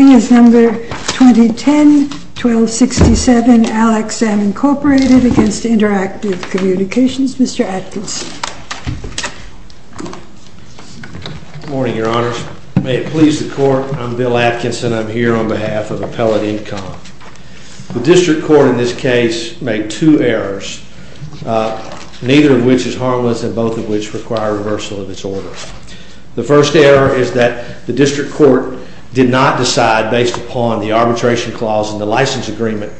MR. ATKINSON. Good morning, Your Honors. May it please the Court, I'm Bill Atkinson. I'm here on behalf of Appellate Income. The District Court in this case made two errors, neither of which is harmless and both of which require reversal of its order. The first error is that the District Court did not decide, based upon the arbitration clause in the license agreement,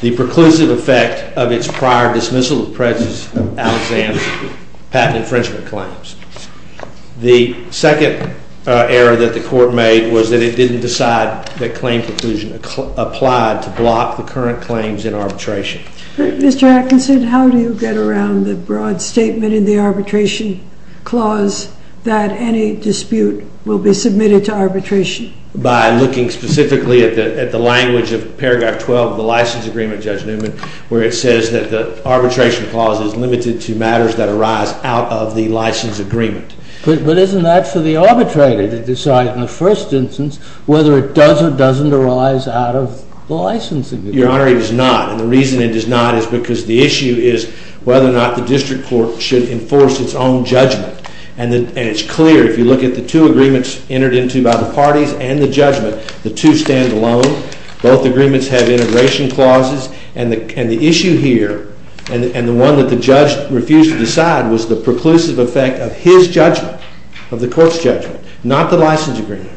the preclusive effect of its prior dismissal of President Alexander's patent infringement claims. The second error that the Court made was that it didn't decide that claim preclusion applied to block the current claims in arbitration. THE COURT. Mr. Atkinson, how do you get around the broad statement in the arbitration clause that any dispute will be submitted to arbitration? MR. ATKINSON. By looking specifically at the language of Paragraph 12 of the license agreement, Judge Newman, where it says that the arbitration clause is limited to matters that arise out of the license agreement. THE COURT. But isn't that for the arbitrator to decide in the first instance whether it does or doesn't arise out of the license agreement? MR. ATKINSON. Your Honor, it is not. And the reason it does not is because the issue is whether or not the District Court should enforce its own judgment. And it's clear, if you look at the two agreements entered into by the parties and the judgment, the two stand alone. Both agreements have integration clauses. And the issue here, and the one that the judge refused to decide, was the preclusive effect of his judgment, of the Court's judgment, not the license agreement,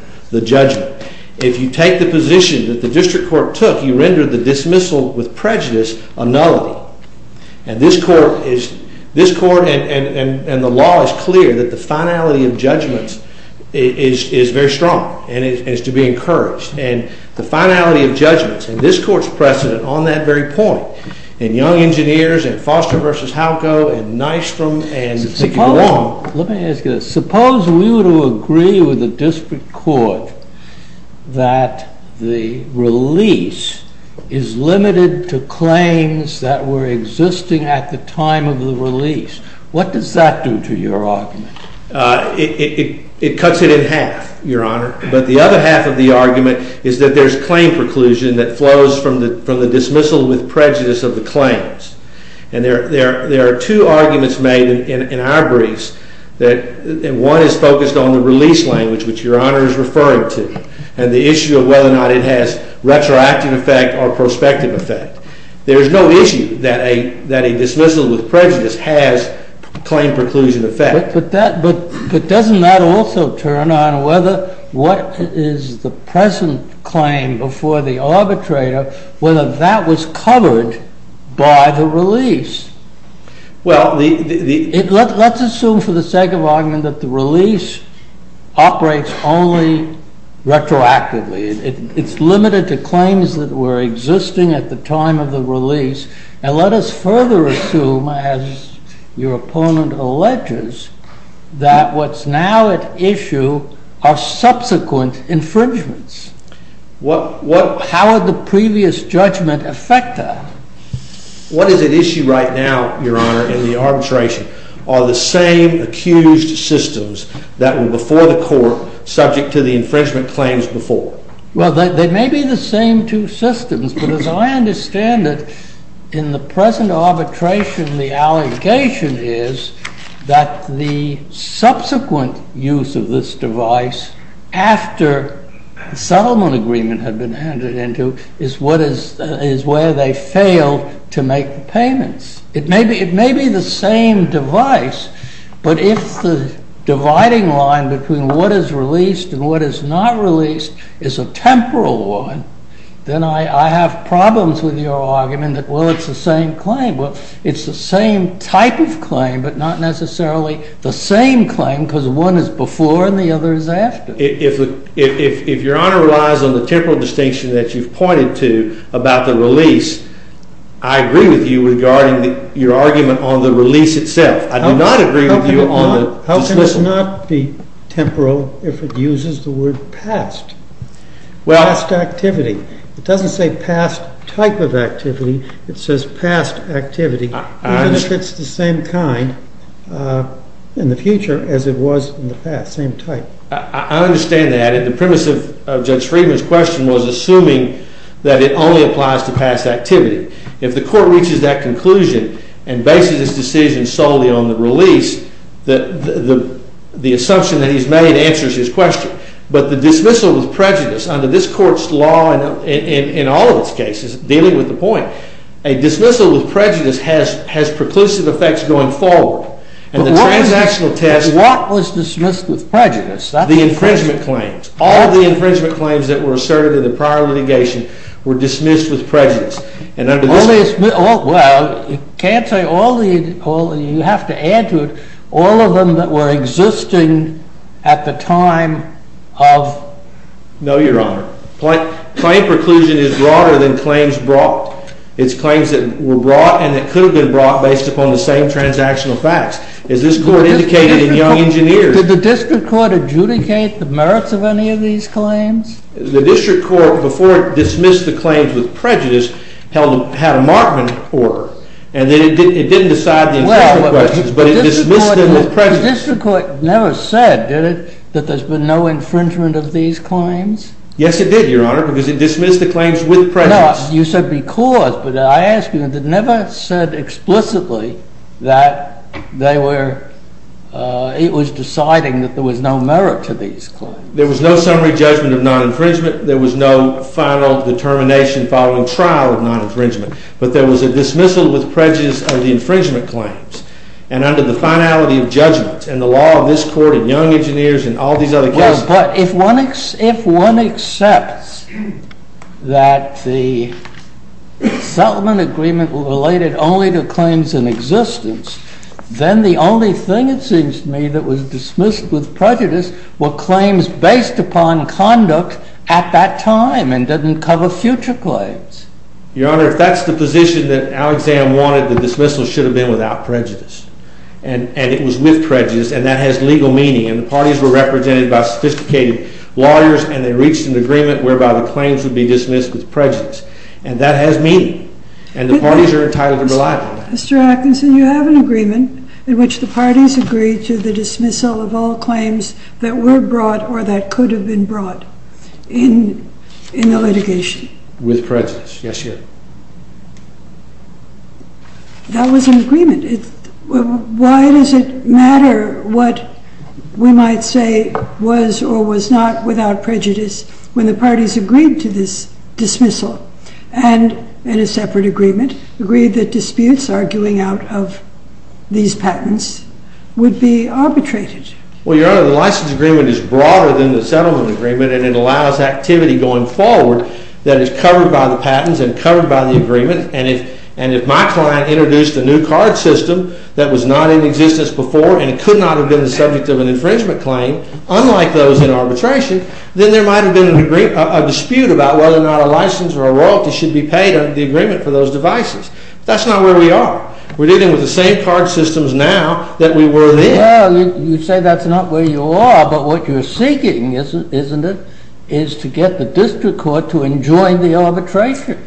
dismissal with prejudice, a nullity. And this Court, and the law is clear, that the finality of judgments is very strong and is to be encouraged. And the finality of judgments, and this Court's precedent on that very point, and Young Engineers and Foster v. Halco and Nystrom and Cicci is limited to claims that were existing at the time of the release. What does that do to your argument? MR. GOLDSMITH. It cuts it in half, Your Honor. But the other half of the argument is that there is claim preclusion that flows from the dismissal with prejudice of the claims. And there are two arguments made in our briefs. One is focused on the release language, which Your Honor is referring to, and the issue of whether or not it has retroactive effect or prospective effect. There is no issue that a dismissal with prejudice has claim preclusion MR. TURNER. But doesn't that also turn on what is the present claim before the arbitrator, whether that was covered by the release? MR. GOLDSMITH. Let's assume for the sake of argument that the release operates only retroactively. It's limited to claims that were existing at the time of the release. And let us further assume, as your opponent alleges, that what's now at issue are subsequent infringements. How would the previous judgment affect that? MR. TURNER. What is at issue right now, Your Honor, in the arbitration, are the same accused systems that were before the court subject to the infringement claims before. MR. GOLDSMITH. Well, they may be the same two systems. But as I understand it, in the present arbitration, the allegation is that the subsequent use of this device after settlement agreement had been handed into is where they failed to make the payments. It may be the same device, but if the dividing line between what is released and what is not released is a temporal one, then I have problems with your argument that, well, it's the same claim. Well, it's the same type of claim, but not necessarily the same claim, because one is before and the other is after. If Your Honor relies on the temporal distinction that you've pointed to about the release, I agree with you regarding your argument on the release itself. I do not agree with you MR. TURNER. How can it not be temporal if it uses the word past? Past activity. It doesn't say past type of activity. It says past activity, even if it's the same kind in the future as it was in the past, same type. MR. MCCANN. I understand that, and the premise of Judge Friedman's question was assuming that it only applies to past activity. If the Court reaches that conclusion and bases its decision solely on the release, the assumption that he's made answers his question. But the dismissal with prejudice under this Court's law, in all of its cases, dealing with the point, a dismissal with prejudice has preclusive effects going forward. MR. TURNER. But what was dismissed with prejudice? MR. MCCANN. The infringement claims. All of the infringement claims that were asserted in the prior litigation were dismissed with prejudice. MR. TURNER. Well, you have to add to it, all of them that were existing at the time of MR. MCCANN. No, Your Honor. Claim preclusion is broader than claims brought. It's claims that were brought and that could have been brought based upon the same transactional facts, as this Court indicated in Young Engineers. MR. TURNER. Did the District Court adjudicate the merits of any of these claims? MR. MCCANN. The District Court, before it dismissed the claims with prejudice, had a markment order, and then it didn't decide the infringement claims, but it dismissed them with prejudice. MR. TURNER. The District Court never said, did it, that there's been no infringement of these claims? MR. MCCANN. Yes, it did, Your Honor, because it dismissed the claims with prejudice. MR. TURNER. You said because, but I ask you, it never said explicitly that it was deciding that there was no merit to these claims. MR. MCCANN. There was no summary judgment of non-infringement. There was no final determination following trial of non-infringement. But there was a dismissal with prejudice of the infringement claims. And under the finality of judgment, and the law of this Court, and Young Engineers, and all these other cases… If one accepts that the settlement agreement was related only to claims in existence, then the only thing, it seems to me, that was dismissed with prejudice were claims based upon conduct at that time, and didn't cover future claims. MR. MCCANN. Your Honor, if that's the position that Alexander wanted, the dismissal should have been without prejudice. And it was with prejudice, and that has legal meaning. And the parties were represented by sophisticated lawyers, and they reached an agreement whereby the claims would be dismissed with prejudice. And that has meaning. And the parties are entitled to rely upon that. MRS. MOSS. Mr. Atkinson, you have an agreement in which the parties agree to the dismissal of all claims that were brought, or that could have been brought, in the litigation. MR. MCCANN. With prejudice. Yes, Your Honor. That was an agreement. Why does it matter what we might say was or was not without prejudice when the parties agreed to this dismissal, and in a separate agreement, agreed that disputes arguing out of these patents would be arbitrated? MR. MCCANN. Well, Your Honor, the license agreement is broader than the settlement agreement, and it allows activity going forward that is covered by the patents and covered by the agreement. And if my client introduced a new card system that was not in existence before, and it could not have been the subject of an infringement claim, unlike those in arbitration, then there might have been a dispute about whether or not a license or a royalty should be paid under the agreement for those devices. That's not where we are. We're dealing with the same card systems now that we were then. Well, you say that's not where you are, but what you're seeking, isn't it, is to get the district court to enjoin the arbitration. MR. MCCANN.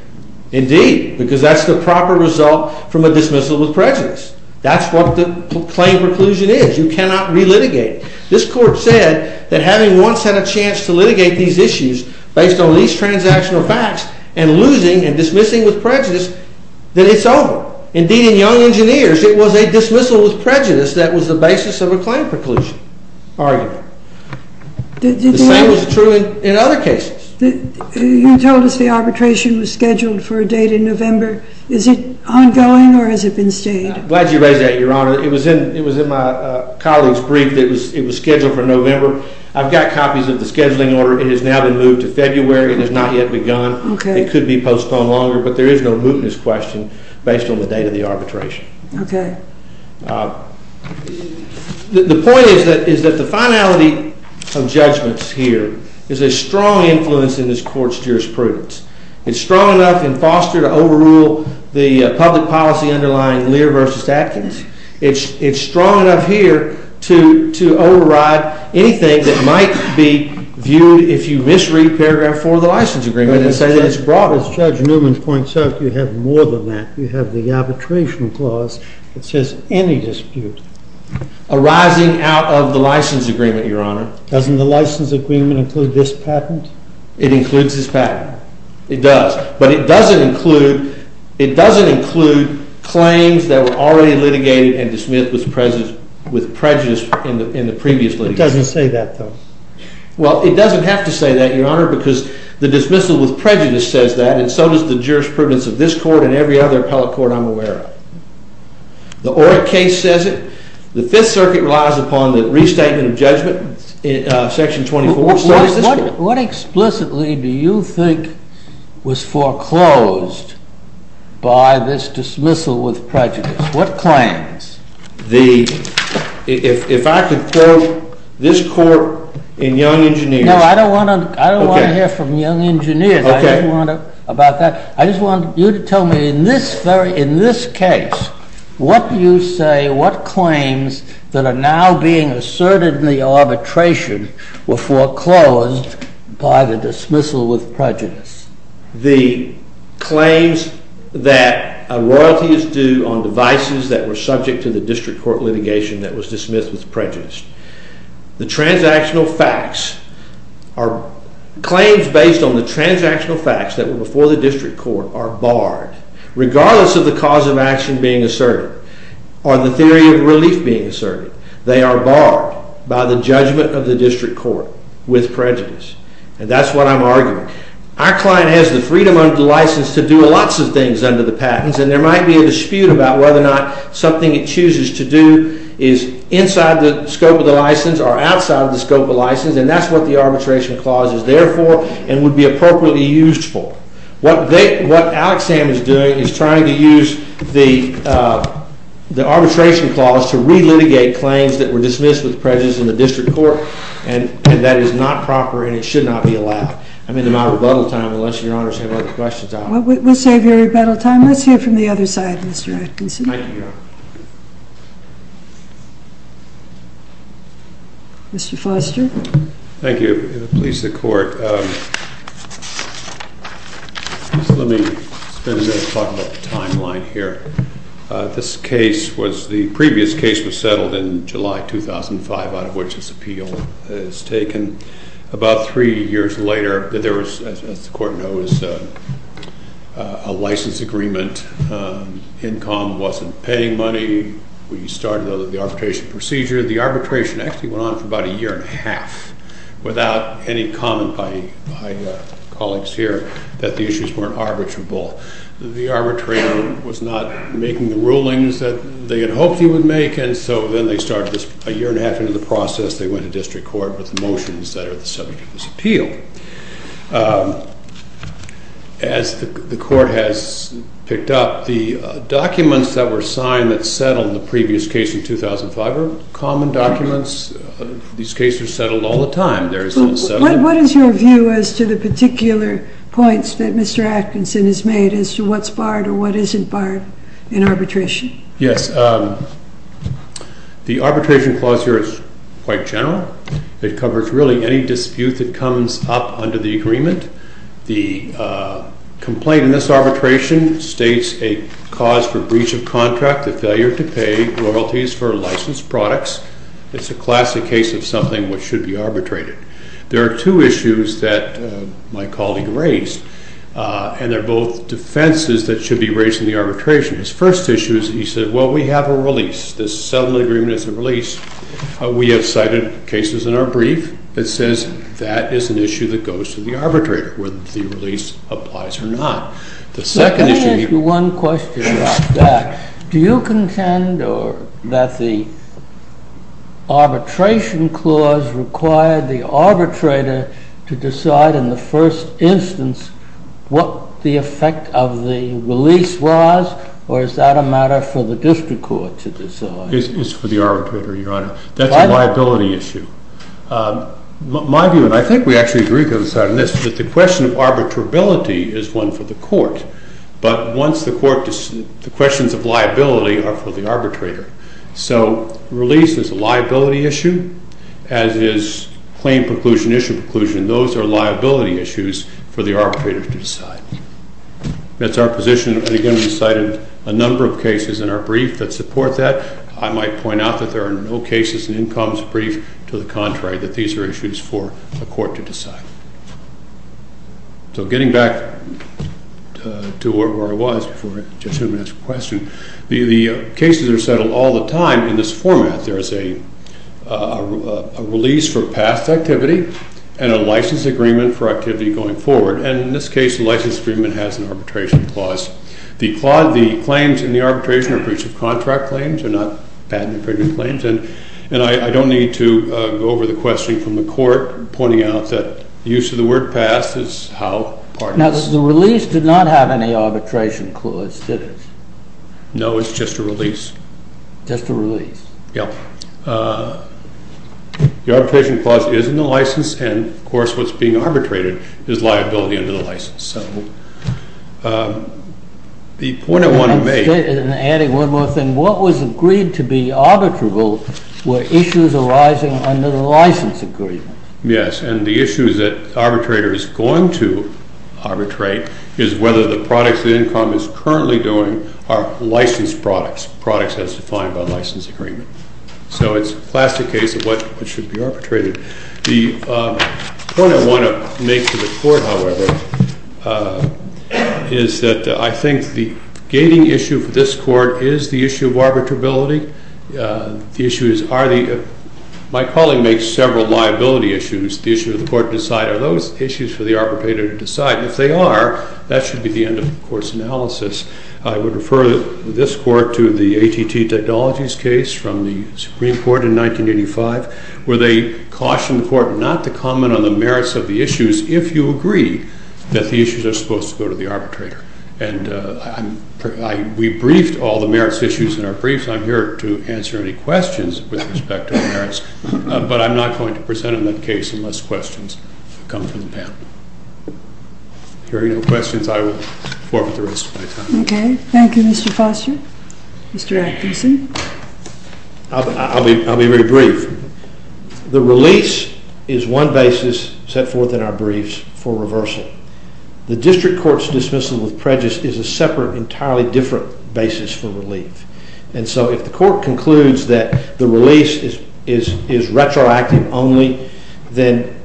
Indeed, because that's the proper result from a dismissal with prejudice. That's what the claim preclusion is. You cannot relitigate it. This Court said that having once had a chance to litigate these issues based on these transactional facts and losing and dismissing with prejudice, that it's over. Indeed, in Young Engineers, it was a dismissal with prejudice that was the basis of a claim preclusion argument. The same was true in other cases. MS. MATHISON. You told us the arbitration was scheduled for a date in November. Is it ongoing, or has it been stayed? MR. MCCANN. I'm glad you raised that, Your Honor. It was in my colleague's brief that it was scheduled for November. I've got copies of the scheduling order. It has now been moved to February. It has not yet begun. It could be postponed longer, but there is no mootness question based on the date of the arbitration. MS. MATHISON. Okay. MR. MCCANN. The point is that the finality of judgments here is a strong influence in this Court's jurisprudence. It's strong enough in Foster to overrule the public policy underlying Lear v. Atkins. It's strong enough here to override anything that might be viewed if you misread paragraph 4 of the license agreement and say that it's brought on. MR. MCCANN. As Judge Newman points out, you have more than that. You have the arbitration clause that says any dispute arising out of the license agreement, MR. MCCANN. Doesn't the license agreement include this patent? MR. MCCANN. It includes this patent. It does. But it doesn't include claims that were already litigated and dismissed with prejudice in the previous litigation. MR. MCCANN. It doesn't say that, though? MR. MCCANN. Well, it doesn't have to say that, Your Honor, because the dismissal with prejudice says that, and so does the jurisprudence of this Court and every other appellate court I'm aware of. The Orrick case says it. The Fifth Circuit relies upon the restatement of judgment in Section 24. MR. DALY. What explicitly do you think was foreclosed by this dismissal with prejudice? What claims? MR. MCCANN. If I could quote this Court in Young Engineers. MR. DALY. No, I don't want to hear from Young Engineers about that. I just want you to tell me in this case, what do you say, what claims that are now being asserted in the arbitration were foreclosed by the dismissal with prejudice? MR. MCCANN. The claims that a royalty is due on devices that were subject to the transactional facts that were before the district court are barred, regardless of the cause of action being asserted or the theory of relief being asserted. They are barred by the judgment of the district court with prejudice, and that's what I'm arguing. Our client has the freedom under the license to do lots of things under the patents, and there might be a dispute about whether or not something it chooses to do is inside the scope of license, and that's what the arbitration clause is there for and would be appropriately used for. What Alexander is doing is trying to use the arbitration clause to re-litigate claims that were dismissed with prejudice in the district court, and that is not proper and it should not be allowed. I'm in the matter of rebuttal time, unless Your Honors have other questions. MS. MOSS. We'll save your rebuttal time. Let's hear from the other side, Mr. Atkinson. MR. ATKINSON. Thank you, Your Honor. MS. MOSS. Mr. Foster. MR. FOSTER. Thank you. Please, the Court. Let me spend a minute talking about the timeline here. This case was, the previous case was settled in July 2005, out of which this appeal is taken. About three years later, there was, as the Court knows, a license agreement. Incom wasn't paying money. We started the arbitration procedure. The arbitration actually went on for about a year and a half, without any comment by colleagues here that the issues weren't arbitrable. The arbitrator was not making the rulings that they had hoped he would make, and so then they started a year and a half into the process. They went to district court with motions that are the subject of this appeal. As the Court has picked up, the documents that were signed that settled the previous case in 2005 are common documents. These cases are settled all the time. There is no settlement. MS. MOSS. What is your view as to the particular points that Mr. Atkinson has made as to what's barred or what isn't barred in arbitration? MR. ATKINSON. Yes. The arbitration clause here is quite general. It covers really any dispute that comes up under the agreement. The complaint in this arbitration states a cause for breach of contract, the failure to pay royalties for licensed products. It's a classic case of something which should be arbitrated. There are two issues that my colleague raised, and they're both defenses that should be raised in the arbitration. His first issue is he said, well, we have a release. This settlement agreement is a release. We have cited cases in our brief that says that is an issue that goes to the arbitrator, whether the release applies or not. The second issue… MR. MOSS. Let me ask you one question about that. Do you contend that the arbitration clause required the arbitrator to decide in the first instance what the effect of the release is, or is that a matter for the district court to decide? MR. ATKINSON. It's for the arbitrator, Your Honor. That's a liability issue. My view, and I think we actually agree with this, is that the question of arbitrability is one for the court, but once the court…the questions of liability are for the arbitrator. So release is a liability issue, as is claim preclusion, issue preclusion. Those are a number of cases in our brief that support that. I might point out that there are no cases in Income's brief to the contrary, that these are issues for the court to decide. So getting back to where I was before I just asked the question, the cases are settled all the time in this format. There is a release for past activity and a license agreement for activity going forward, and in this case, the license agreement has an arbitration clause. The claims in the arbitration are breach of contract claims, they're not patent infringement claims, and I don't need to go over the question from the court, pointing out that the use of the word past is how part of this… THE COURT. Now, the release did not have any arbitration clause, did it? MR. ATKINSON. No, it's just a release. THE COURT. Just a release? MR. ATKINSON. Yes. The arbitration clause is in the license, and of course what's being arbitrated is liability under the license. So the point I want to make… THE COURT. And adding one more thing, what was agreed to be arbitrable were issues arising MR. ATKINSON. Yes, and the issues that the arbitrator is going to arbitrate is whether the products that Income is currently doing are licensed products, products as defined by license agreement. So it's a classic case of what should be arbitrated. The point I want to make to the court, however, is that I think the gating issue for this court is the issue of arbitrability. The issue is, are the… my colleague makes several liability issues. The issue of the court to decide are those issues for the arbitrator to decide, and if they are, that should be the end of the court's analysis. I would refer this court to the ATT Technologies case from the Supreme Court in 1985, where they cautioned the court not to comment on the merits of the issues if you agree that the issues are supposed to go to the arbitrator. And we briefed all the merits issues in our briefs. I'm here to answer any questions with respect to the merits, but I'm not going to present on that case unless questions come from the panel. If there are no questions, I will forfeit the rest of my time. THE COURT. Okay. Thank you, Mr. Foster. Mr. Atkinson. I'll be very brief. The release is one basis set forth in our briefs for reversal. The district court's dismissal with prejudice is a separate, entirely different basis for relief. And so if the court concludes that the release is retroactive only, then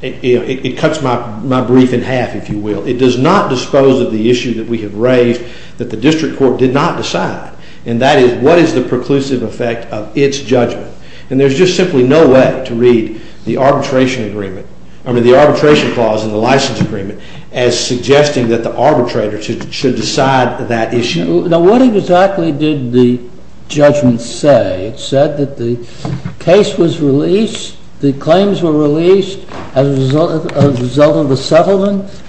it cuts my brief in half, if you will. It does not dispose of the issue that we have raised that the district court did not decide. And that is, what is the preclusive effect of its judgment? And there's just simply no way to read the arbitration agreement, I mean the arbitration clause in the license agreement, as suggesting that the arbitrator should decide that issue. Now, what exactly did the judgment say? It said that the case was released, the claims were released as a result of the settlement?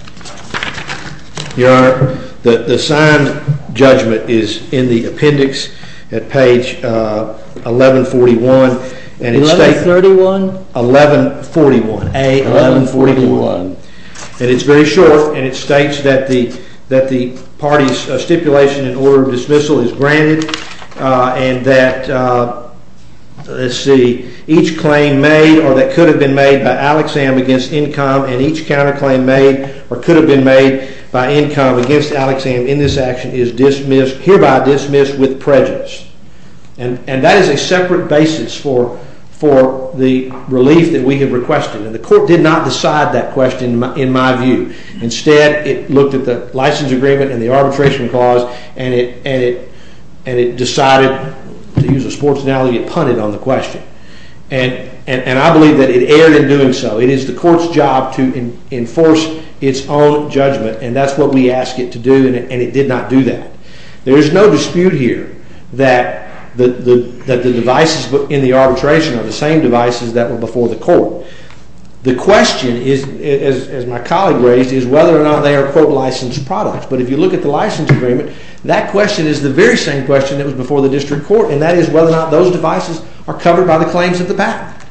Your Honor, the signed judgment is in the appendix at page 1141. 1131? 1141. A-1141. And it's very short, and it states that the party's stipulation in order of dismissal is granted, and that, let's see, each claim made or that could have been made by Alexam against Incom, and each counterclaim made or could have been made by Incom against Alexam in this action is dismissed, hereby dismissed with prejudice. And that is a separate basis for the relief that we have requested. And the court did not decide that question, in my view. Instead, it looked at the license agreement and the arbitration clause, and it decided, to use a sports analogy, it punted on the question. And I believe that it erred in doing so. It is the court's job to enforce its own judgment, and that's what we asked it to do, and it did not do that. There is no dispute here that the devices in the arbitration are the same devices that were before the court. The question, as my colleague raised, is whether or not they are, quote, licensed products. But if you look at the license agreement, that question is the very same question that was before the district court, and that is whether or not those devices are covered by the claims of the patent.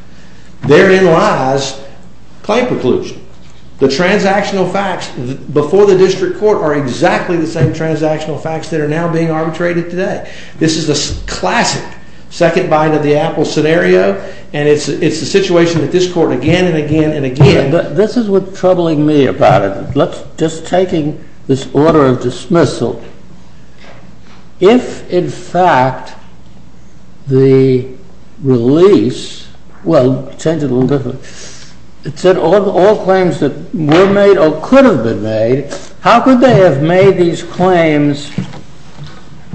Therein lies claim preclusion. The transactional facts before the district court are exactly the same transactional facts that are now being arbitrated today. This is a classic second bind of the apple scenario, and it's a situation that this court again and again and again This is what's troubling me about it. Just taking this order of dismissal, if in fact the release, well, change it a little bit, it said all claims that were made or could have been made, how could they have made these claims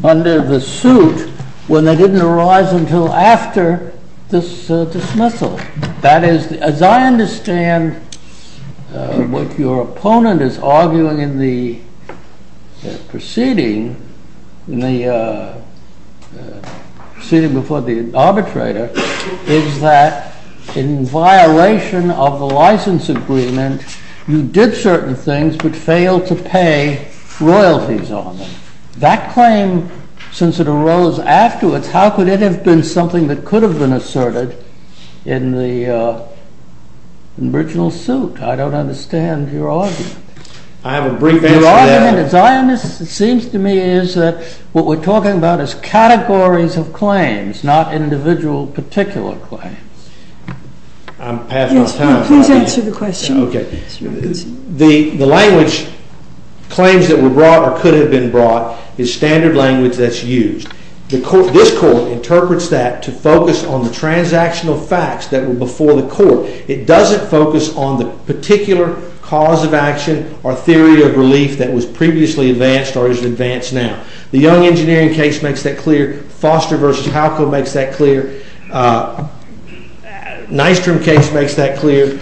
under the suit when they didn't arise until after this dismissal? That is, as I understand what your opponent is arguing in the proceeding before the arbitrator, is that in violation of the license agreement, you did certain things but failed to pay royalties on them. That claim, since it arose afterwards, how could it have been something that could have been asserted in the original suit? I don't understand your argument. I have a brief answer to that. Your argument, it seems to me, is that what we're talking about is categories of claims, not individual particular claims. I'm passing my time. Yes, please answer the question. The language, claims that were brought or could have been brought, is standard language that's used. This court interprets that to focus on the transactional facts that were before the court. It doesn't focus on the particular cause of action or theory of relief that was previously advanced or is advanced now. The Young Engineering case makes that clear. Foster v. Halco makes that clear. Nystrom case makes that clear.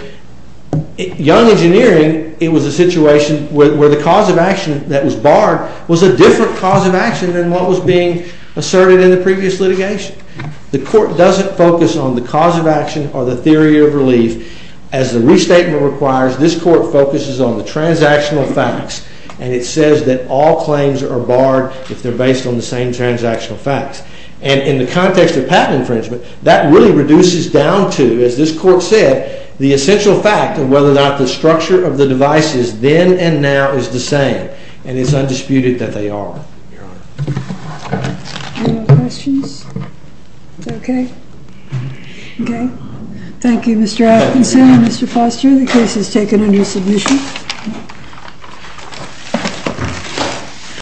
Young Engineering, it was a situation where the cause of action that was barred was a different cause of action than what was being asserted in the previous litigation. The court doesn't focus on the cause of action or the theory of relief. As the restatement requires, this court focuses on the transactional facts. And it says that all claims are barred if they're based on the same transactional facts. And in the context of patent infringement, that really reduces down to, as this court said, the essential fact of whether or not the structure of the devices then and now is the same. And it's undisputed that they are. Any other questions? Okay. Okay. Thank you, Mr. Atkinson and Mr. Foster. The case is taken under submission.